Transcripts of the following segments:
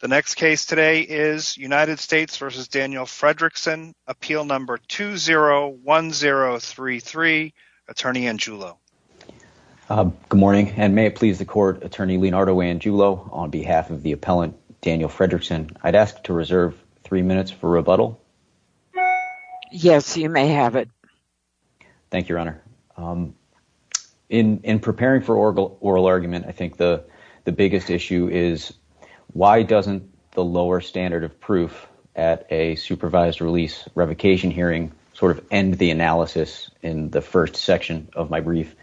The next case today is United States v. Daniel Frederickson, Appeal No. 201033, Attorney Angiulo. Good morning, and may it please the Court, Attorney Leonardo Angiulo, on behalf of the appellant Daniel Frederickson, I'd ask to reserve three minutes for rebuttal. Yes, you may have it. Thank you, Your Honor. In preparing for oral argument, I think the biggest issue is, why doesn't the lower standard of proof at a supervised release revocation hearing sort of end the analysis in the first section of my brief?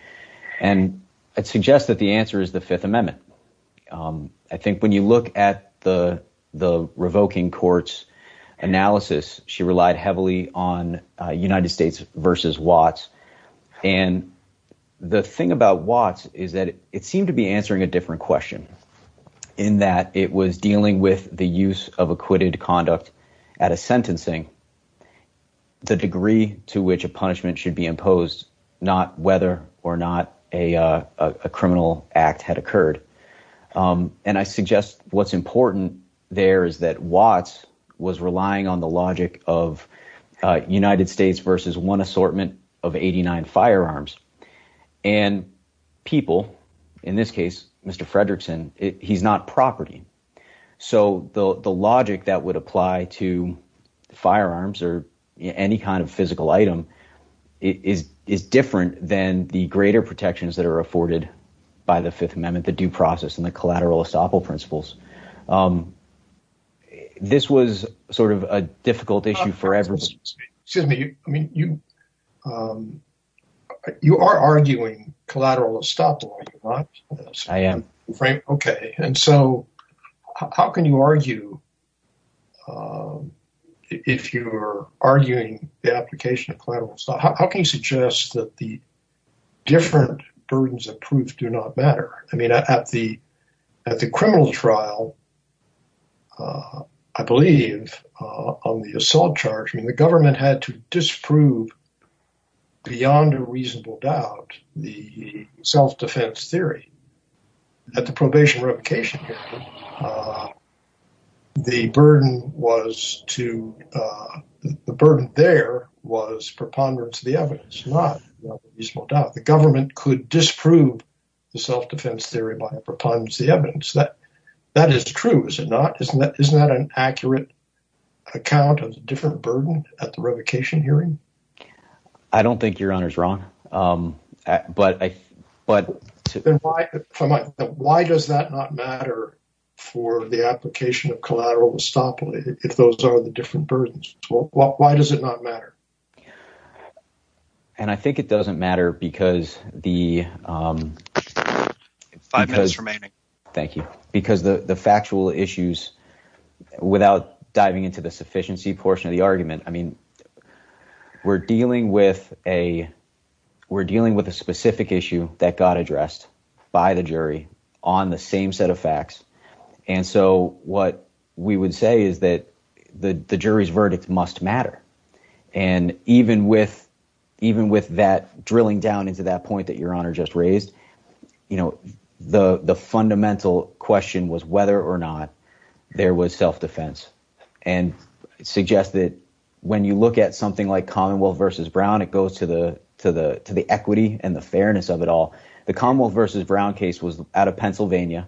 And I'd suggest that the answer is the Fifth Amendment. I think when you look at the revoking court's analysis, she relied heavily on United States v. Watts. And the thing about Watts is that it seemed to be answering a different question, in that it was dealing with the use of acquitted conduct at a sentencing, the degree to which a punishment should be imposed, not whether or not a criminal act had occurred. And I suggest what's important there is that Watts was relying on the logic of United States v. one assortment of 89 firearms. And people, in this case, Mr. Frederickson, he's not property. So the logic that would apply to firearms or any kind of physical item is different than the greater protections that are afforded by the Fifth Amendment, the due process and the collateral estoppel principles. This was sort of a difficult issue for everyone. Excuse me. I mean, you are arguing collateral estoppel, are you not? I am. Okay. And so how can you argue, if you're arguing the application of collateral estoppel, how can you suggest that the different burdens of proof do not matter? I mean, at the criminal trial, I believe, on the assault charge, the government had to disprove beyond a reasonable doubt the self-defense theory. At the probation revocation, the burden there was preponderance of the evidence, not reasonable doubt. The government could disprove the self-defense theory by preponderance of the evidence. That is true, is it not? Isn't that an accurate account of the different burden at the revocation hearing? I don't think Your Honor's wrong. But why does that not matter for the application of collateral estoppel if those are the different burdens? Why does it not matter? And I think it doesn't matter because the— Five minutes remaining. Thank you. Because the factual issues, without diving into the sufficiency portion of the argument, I mean, we're dealing with a specific issue that got addressed by the jury on the same set of facts. And so what we would say is that the jury's verdict must matter. And even with that drilling down into that point that Your Honor just raised, the fundamental question was whether or not there was self-defense. And it suggests that when you look at something like Commonwealth v. Brown, it goes to the equity and the fairness of it all. The Commonwealth v. Brown case was out of Pennsylvania,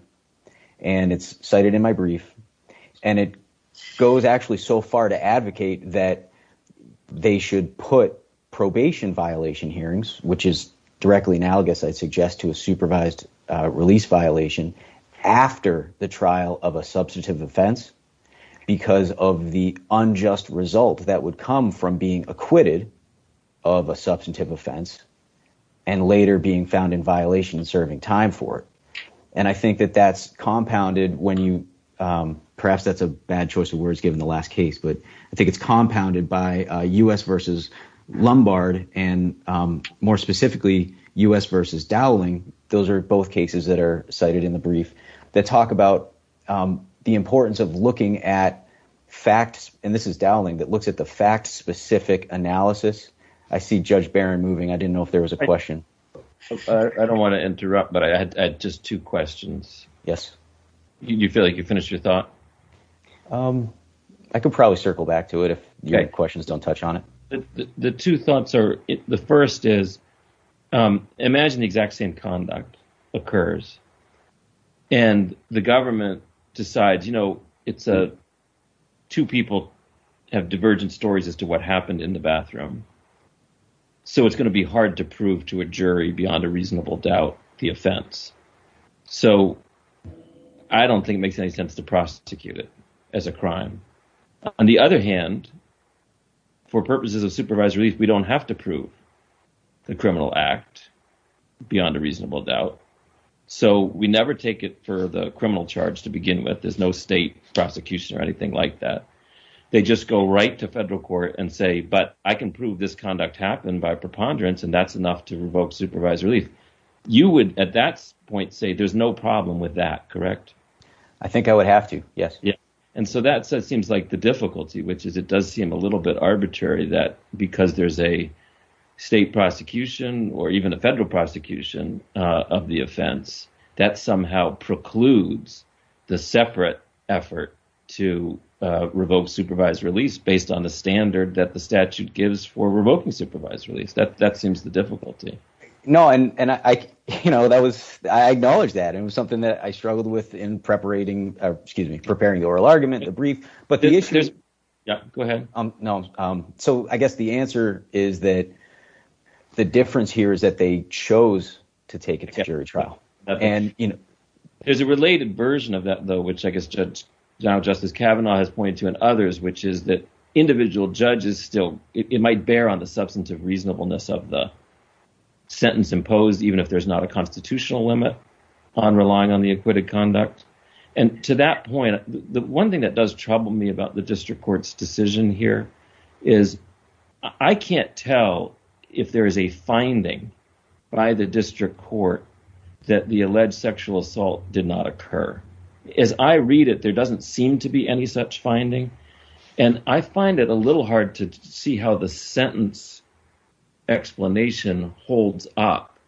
and it's cited in my brief. And it goes actually so far to advocate that they should put probation violation hearings, which is directly analogous, I'd suggest, to a supervised release violation after the trial of a substantive offense because of the unjust result that would come from being acquitted of a substantive offense and later being found in violation and serving time for it. And I think that that's compounded when you—perhaps that's a bad choice of words given the last case, but I think it's compounded by U.S. v. Lombard and more specifically U.S. v. Dowling. Those are both cases that are cited in the brief that talk about the importance of looking at facts. And this is Dowling that looks at the fact specific analysis. I see Judge Barron moving. I didn't know if there was a question. I don't want to interrupt, but I had just two questions. Do you feel like you finished your thought? I could probably circle back to it if your questions don't touch on it. The two thoughts are, the first is, imagine the exact same conduct occurs, and the government decides, you know, two people have divergent stories as to what happened in the bathroom. So it's going to be hard to prove to a jury beyond a reasonable doubt the offense. So I don't think it makes any sense to prosecute it as a crime. On the other hand, for purposes of supervised relief, we don't have to prove the criminal act beyond a reasonable doubt. So we never take it for the criminal charge to begin with. There's no state prosecution or anything like that. They just go right to federal court and say, but I can prove this conduct happened by preponderance, and that's enough to revoke supervised relief. You would, at that point, say there's no problem with that, correct? I think I would have to, yes. And so that seems like the difficulty, which is it does seem a little bit arbitrary that because there's a state prosecution or even a federal prosecution of the offense, that somehow precludes the separate effort to revoke supervised release based on the standard that the statute gives for revoking supervised release. That seems the difficulty. No. And I, you know, that was I acknowledge that it was something that I struggled with in preparating, excuse me, preparing the oral argument, the brief. But the issue is. Yeah, go ahead. No. So I guess the answer is that the difference here is that they chose to take a jury trial. And, you know, there's a related version of that, though, which I guess Judge Justice Kavanaugh has pointed to and others, which is that individual judges still it might bear on the substance of reasonableness of the sentence imposed, even if there's not a constitutional limit on relying on the acquitted conduct. And to that point, the one thing that does trouble me about the district court's decision here is I can't tell if there is a finding by the district court that the alleged sexual assault did not occur. As I read it, there doesn't seem to be any such finding. And I find it a little hard to see how the sentence explanation holds up.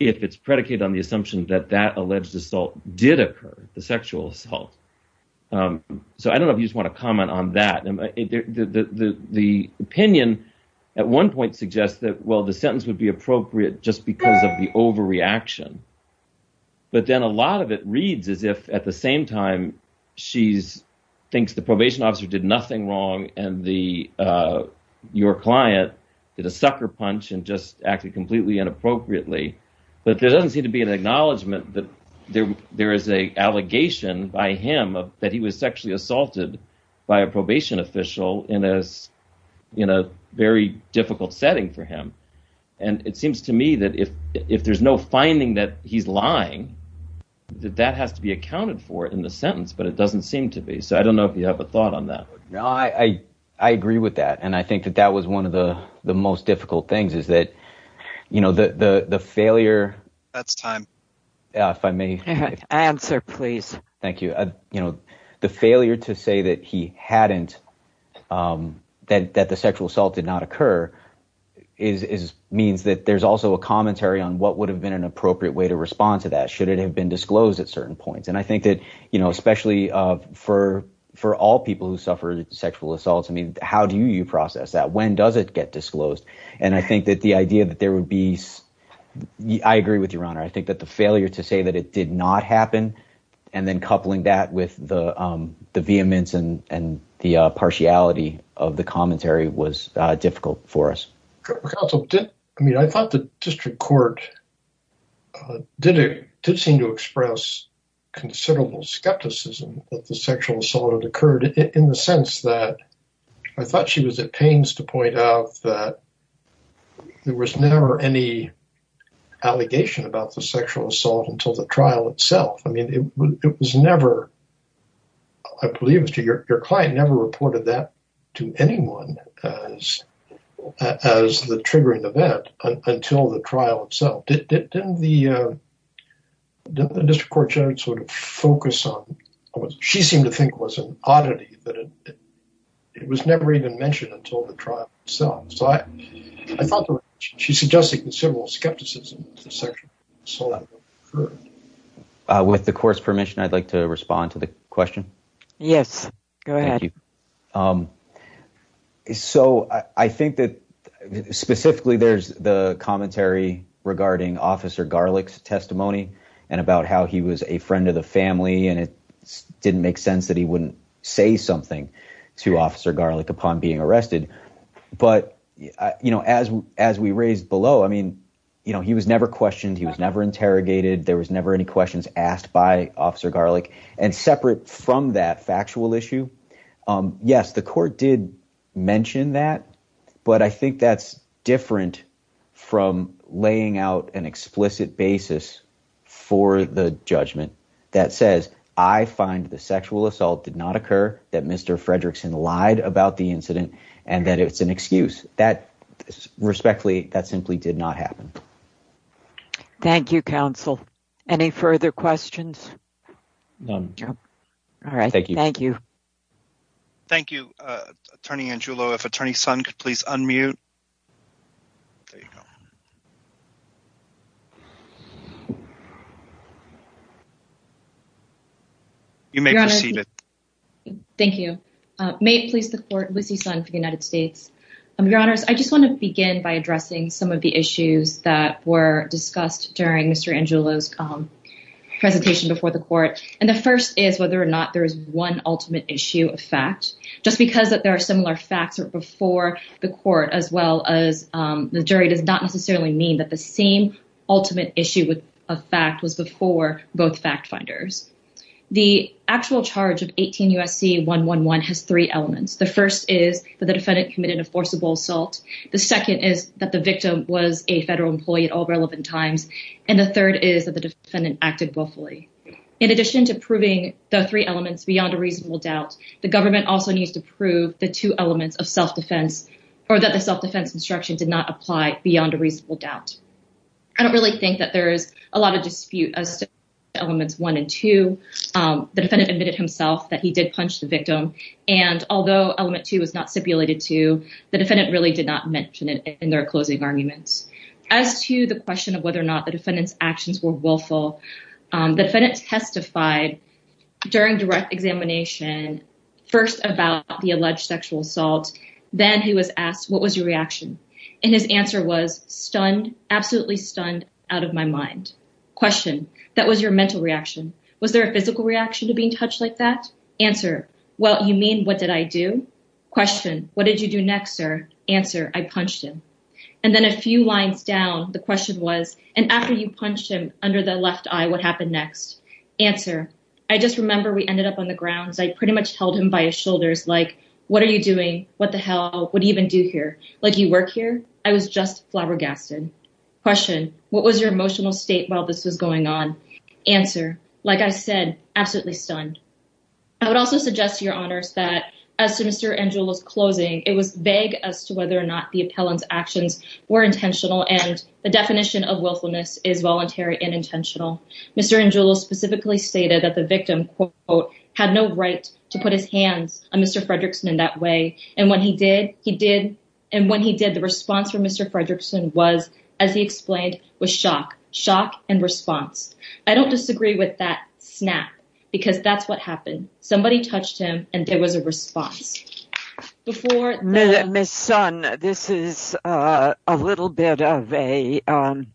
If it's predicated on the assumption that that alleged assault did occur, the sexual assault. So I don't know if you want to comment on that. The opinion at one point suggests that, well, just because of the overreaction. But then a lot of it reads as if at the same time she's thinks the probation officer did nothing wrong. And the your client did a sucker punch and just acted completely inappropriately. But there doesn't seem to be an acknowledgment that there there is a allegation by him that he was sexually assaulted by a probation official. And as you know, very difficult setting for him. And it seems to me that if if there's no finding that he's lying, that that has to be accounted for in the sentence. But it doesn't seem to be. So I don't know if you have a thought on that. No, I, I agree with that. And I think that that was one of the the most difficult things is that, you know, the failure. That's time. If I may answer, please. Thank you. You know, the failure to say that he hadn't that that the sexual assault did not occur is means that there's also a commentary on what would have been an appropriate way to respond to that. Should it have been disclosed at certain points? And I think that, you know, especially for for all people who suffered sexual assaults. I mean, how do you process that? When does it get disclosed? And I think that the idea that there would be. I agree with your honor. I think that the failure to say that it did not happen and then coupling that with the vehemence and the partiality of the commentary was difficult for us. I mean, I thought the district court did seem to express considerable skepticism that the sexual assault had occurred in the sense that I thought she was at pains to point out that there was never any allegation about the sexual assault until the trial itself. I mean, it was never. I believe your client never reported that to anyone as as the triggering event until the trial itself. Didn't the district court judge sort of focus on what she seemed to think was an oddity that it was never even mentioned until the trial itself. I thought she's suggesting that civil skepticism. With the court's permission, I'd like to respond to the question. Yes, go ahead. So I think that specifically there's the commentary regarding Officer Garlick's testimony and about how he was a friend of the family. And it didn't make sense that he wouldn't say something to Officer Garlick upon being arrested. But, you know, as as we raised below, I mean, you know, he was never questioned. He was never interrogated. There was never any questions asked by Officer Garlick. And separate from that factual issue. Yes, the court did mention that. But I think that's different from laying out an explicit basis for the judgment that says, I find the sexual assault did not occur. That Mr. Fredrickson lied about the incident and that it's an excuse that respectfully that simply did not happen. Thank you, counsel. Any further questions? All right. Thank you. Thank you. Thank you, Attorney Angelo. If Attorney Sun could please unmute. You may proceed. Thank you. May it please the court. Lucy Sun for the United States. Your Honor, I just want to begin by addressing some of the issues that were discussed during Mr. Angelo's presentation before the court. And the first is whether or not there is one ultimate issue of fact. Just because that there are similar facts before the court as well as the jury does not necessarily mean that the same ultimate issue with a fact was before both fact finders. The actual charge of 18 U.S.C. 1 1 1 has three elements. The first is that the defendant committed a forcible assault. The second is that the victim was a federal employee at all relevant times. And the third is that the defendant acted willfully. In addition to proving the three elements beyond a reasonable doubt, the government also needs to prove the two elements of self-defense or that the self-defense instruction did not apply beyond a reasonable doubt. I don't really think that there is a lot of dispute as to elements one and two. The defendant admitted himself that he did punch the victim. And although element two was not stipulated to the defendant really did not mention it in their closing arguments as to the question of whether or not the defendant's actions were willful. The defendant testified during direct examination first about the alleged sexual assault. Then he was asked, what was your reaction? And his answer was stunned, absolutely stunned out of my mind. Question. That was your mental reaction. Was there a physical reaction to being touched like that? Answer. Well, you mean, what did I do? Question. What did you do next, sir? Answer. I punched him. And then a few lines down, the question was, and after you punched him under the left eye, what happened next? Answer. I just remember we ended up on the grounds. I pretty much held him by his shoulders. Like, what are you doing? What the hell? What do you even do here? Like, you work here? I was just flabbergasted. Question. What was your emotional state while this was going on? Answer. Like I said, absolutely stunned. I would also suggest to your honors that as to Mr. Angello's closing, it was vague as to whether or not the appellant's actions were intentional. And the definition of willfulness is voluntary and intentional. Mr. Angelo specifically stated that the victim, quote, had no right to put his hands on Mr. Fredrickson in that way. And when he did, he did. And when he did, the response from Mr. Fredrickson was, as he explained, was shock. Shock and response. I don't disagree with that snap, because that's what happened. Somebody touched him and there was a response. Ms. Son, this is a little bit of an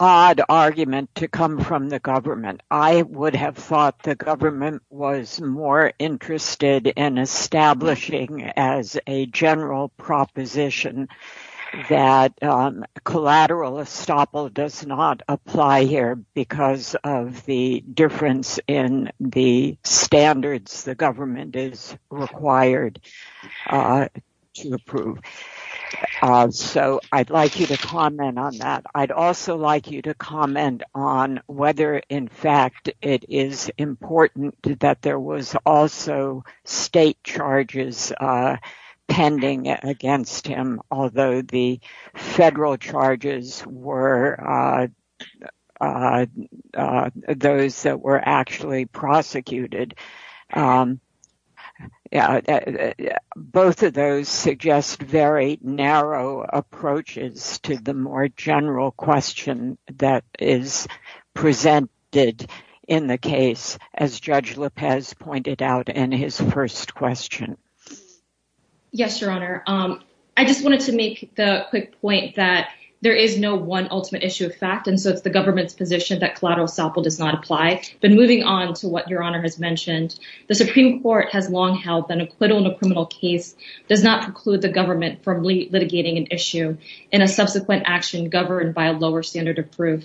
odd argument to come from the government. I would have thought the government was more interested in establishing as a general proposition that collateral estoppel does not apply here because of the difference in the standards. And that the government is required to approve. So I'd like you to comment on that. I'd also like you to comment on whether, in fact, it is important that there was also state charges pending against him. Although the federal charges were those that were actually prosecuted. Both of those suggest very narrow approaches to the more general question that is presented in the case, as Judge Lopez pointed out in his first question. Yes, Your Honor. I just wanted to make the quick point that there is no one ultimate issue of fact. And so it's the government's position that collateral estoppel does not apply. But moving on to what Your Honor has mentioned, the Supreme Court has long held that an acquittal in a criminal case does not preclude the government from litigating an issue in a subsequent action governed by a lower standard of proof.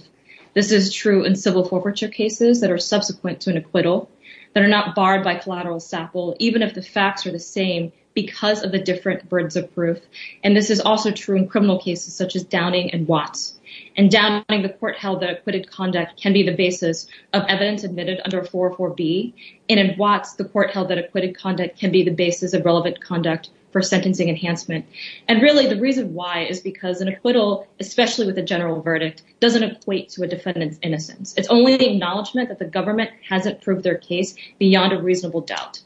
This is true in civil forfeiture cases that are subsequent to an acquittal, that are not barred by collateral estoppel, even if the facts are the same because of the different birds of proof. And this is also true in criminal cases such as Downing and Watts. In Downing, the court held that acquitted conduct can be the basis of evidence admitted under 404B. And in Watts, the court held that acquitted conduct can be the basis of relevant conduct for sentencing enhancement. And really, the reason why is because an acquittal, especially with a general verdict, doesn't equate to a defendant's innocence. It's only the acknowledgement that the government hasn't proved their case beyond a reasonable doubt,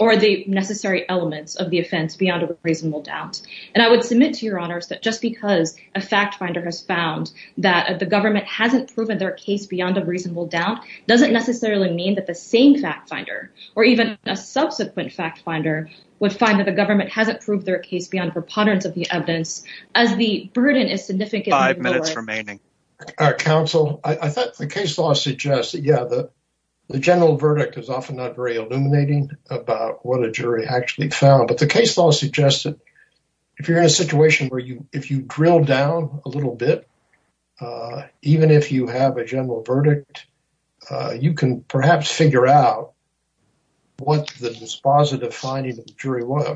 or the necessary elements of the offense beyond a reasonable doubt. And I would submit to Your Honors that just because a fact finder has found that the government hasn't proven their case beyond a reasonable doubt, doesn't necessarily mean that the same fact finder, or even a subsequent fact finder, would find that the government hasn't proved their case beyond preponderance of the evidence, as the burden is significantly lower. Five minutes remaining. Counsel, I thought the case law suggests that, yeah, the general verdict is often not very illuminating about what a jury actually found. But the case law suggests that if you're in a situation where you, if you drill down a little bit, even if you have a general verdict, you can perhaps figure out what the dispositive finding of the jury was.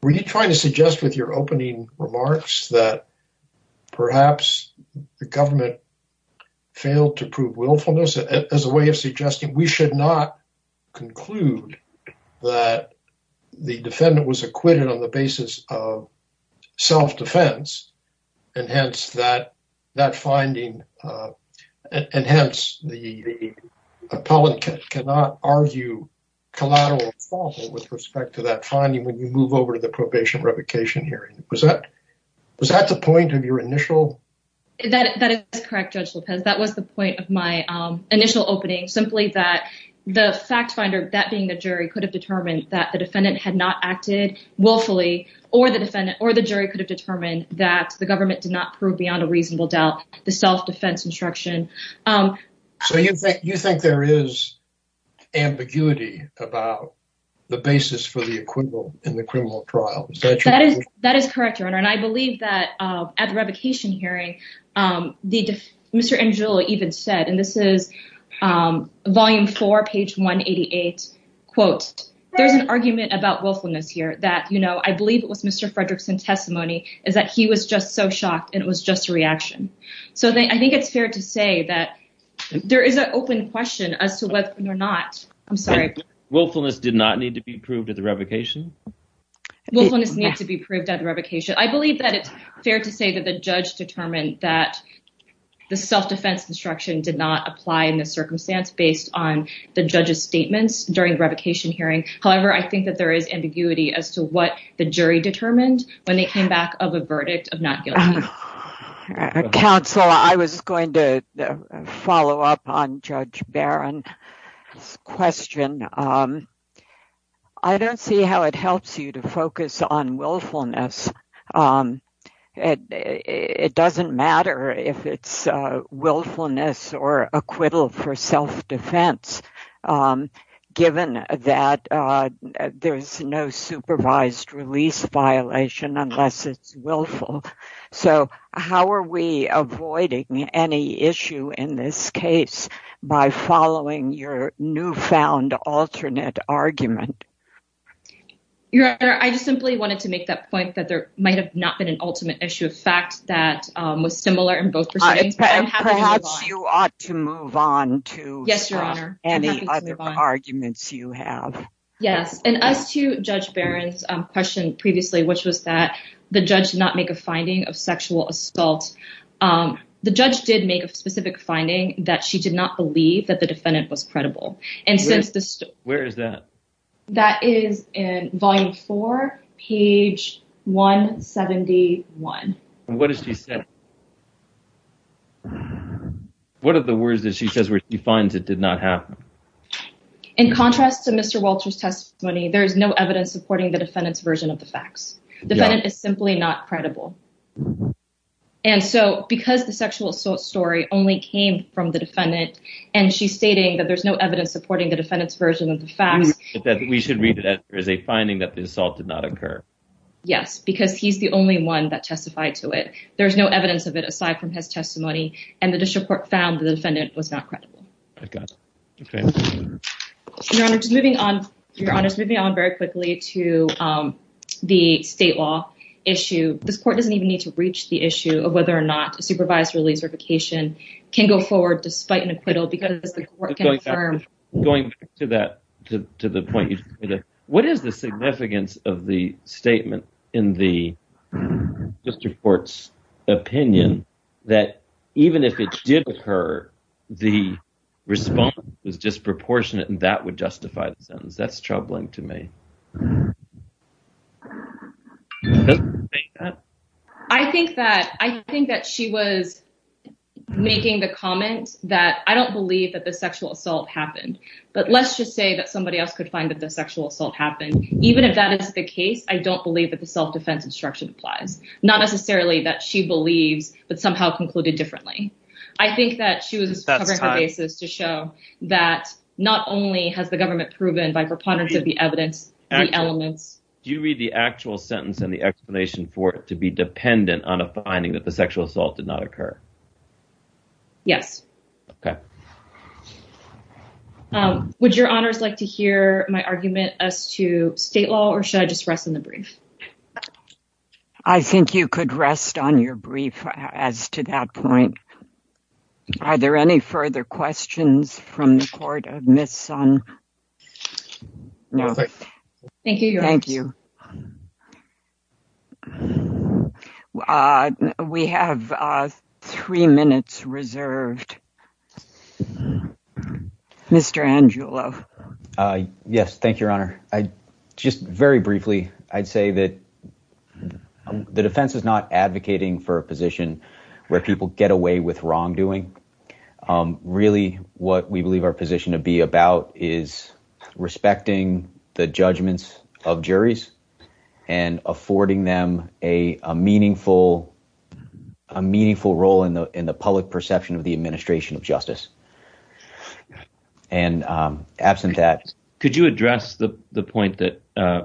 Were you trying to suggest with your opening remarks that perhaps the government failed to prove willfulness as a way of suggesting we should not conclude that the defendant was acquitted on the basis of self-defense, and hence that finding, and hence the appellate cannot argue collateral fault with respect to that finding when you move over to the probation revocation hearing. Was that the point of your initial? That is correct, Judge Lopez. That was the point of my initial opening, simply that the fact finder, that being the jury, could have determined that the defendant had not acted willfully, or the jury could have determined that the government did not prove beyond a reasonable doubt the self-defense instruction. So you think there is ambiguity about the basis for the acquittal in the criminal trial? That is correct, Your Honor, and I believe that at the revocation hearing, Mr. Angelo even said, and this is volume four, page 188, quote, there's an argument about willfulness here that, you know, I believe it was Mr. Fredrickson's testimony is that he was just so shocked and it was just a reaction. So I think it's fair to say that there is an open question as to whether or not, I'm sorry. Willfulness did not need to be proved at the revocation? Willfulness needs to be proved at the revocation. I believe that it's fair to say that the judge determined that the self-defense instruction did not apply in this circumstance based on the judge's statements during the revocation hearing. However, I think that there is ambiguity as to what the jury determined when they came back of a verdict of not guilty. Counsel, I was going to follow up on Judge Barron's question. I don't see how it helps you to focus on willfulness. It doesn't matter if it's willfulness or acquittal for self-defense, given that there's no supervised release violation unless it's willful. So how are we avoiding any issue in this case by following your newfound alternate argument? Your Honor, I just simply wanted to make that point that there might have not been an ultimate issue of fact that was similar in both proceedings. Perhaps you ought to move on to any other arguments you have. Yes, and as to Judge Barron's question previously, which was that the judge did not make a finding of sexual assault, the judge did make a specific finding that she did not believe that the defendant was credible. Where is that? That is in Volume 4, page 171. What does she say? What are the words that she says where she finds it did not happen? In contrast to Mr. Walter's testimony, there is no evidence supporting the defendant's version of the facts. The defendant is simply not credible. And so because the sexual assault story only came from the defendant, and she's stating that there's no evidence supporting the defendant's version of the facts... We should read it as a finding that the assault did not occur. Yes, because he's the only one that testified to it. There's no evidence of it aside from his testimony, and the district court found the defendant was not credible. I got it. Your Honor, just moving on very quickly to the state law issue. This court doesn't even need to reach the issue of whether or not a supervisory certification can go forward despite an acquittal because the court can affirm... Going back to the point you made, what is the significance of the statement in the district court's opinion that even if it did occur, the response was disproportionate and that would justify the sentence? That's troubling to me. Do you think that? I think that she was making the comment that I don't believe that the sexual assault happened. But let's just say that somebody else could find that the sexual assault happened. Even if that is the case, I don't believe that the self-defense instruction applies. Not necessarily that she believes, but somehow concluded differently. I think that she was covering her bases to show that not only has the government proven by preponderance of the evidence, the elements... Do you read the actual sentence and the explanation for it to be dependent on a finding that the sexual assault did not occur? Yes. Okay. Would Your Honors like to hear my argument as to state law, or should I just rest in the brief? I think you could rest on your brief as to that point. Are there any further questions from the court of Ms. Sun? No. Thank you. We have three minutes reserved. Yes. Thank you, Your Honor. Just very briefly, I'd say that the defense is not advocating for a position where people get away with wrongdoing. Really, what we believe our position to be about is respecting the judgments of juries and affording them a meaningful role in the public perception of the administration of justice. And absent that... Could you address the point that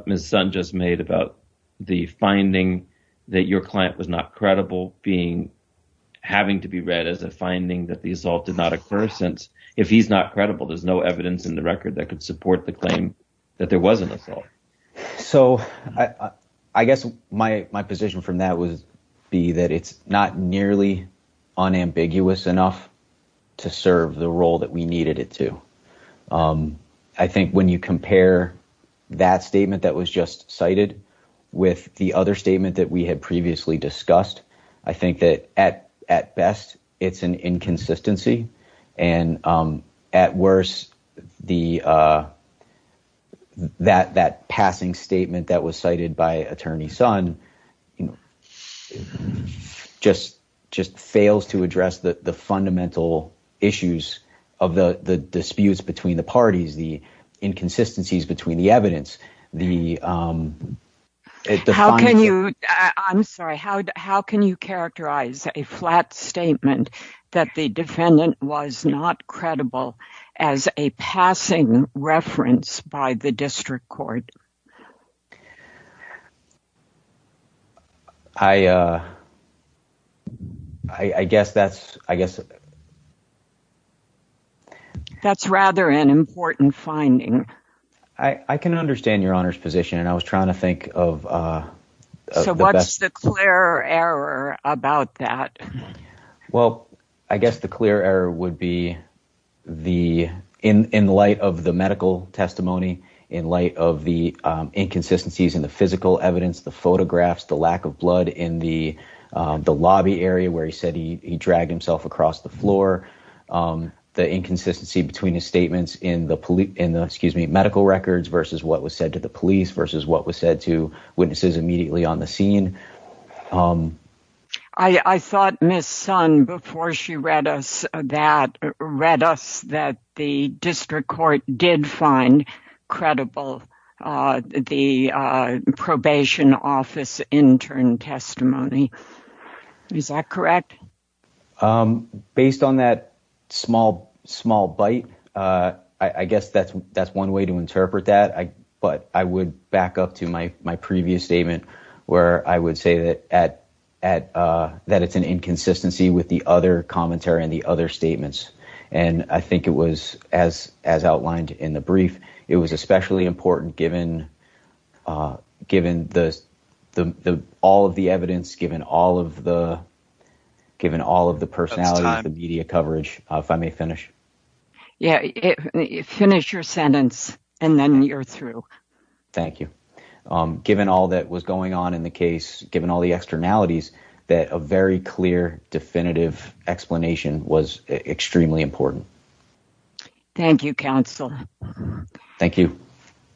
Ms. Sun just made about the finding that your client was not credible having to be read as a finding that the assault did not occur? Since if he's not credible, there's no evidence in the record that could support the claim that there was an assault. So I guess my position from that would be that it's not nearly unambiguous enough to serve the role that we needed it to. I think when you compare that statement that was just cited with the other statement that we had previously discussed, I think that at best it's an inconsistency. And at worst, that passing statement that was cited by Attorney Sun just fails to address the fundamental issues of the disputes between the parties, the inconsistencies between the evidence. I'm sorry, how can you characterize a flat statement that the defendant was not credible as a passing reference by the district court? I guess that's... That's rather an important finding. I can understand your Honor's position and I was trying to think of... So what's the clear error about that? Well, I guess the clear error would be in light of the medical testimony, in light of the inconsistencies in the physical evidence, the photographs, the lack of blood in the lobby area where he said he dragged himself across the floor. The inconsistency between his statements in the medical records versus what was said to the police versus what was said to witnesses immediately on the scene. I thought Ms. Sun, before she read us that, read us that the district court did find credible the probation office intern testimony. Is that correct? Based on that small bite, I guess that's one way to interpret that. But I would back up to my previous statement where I would say that it's an inconsistency with the other commentary and the other statements. And I think it was, as outlined in the brief, it was especially important given all of the evidence, given all of the personalities, the media coverage, if I may finish. Yeah, finish your sentence and then you're through. Thank you. Given all that was going on in the case, given all the externalities, that a very clear, definitive explanation was extremely important. Thank you, counsel. Thank you.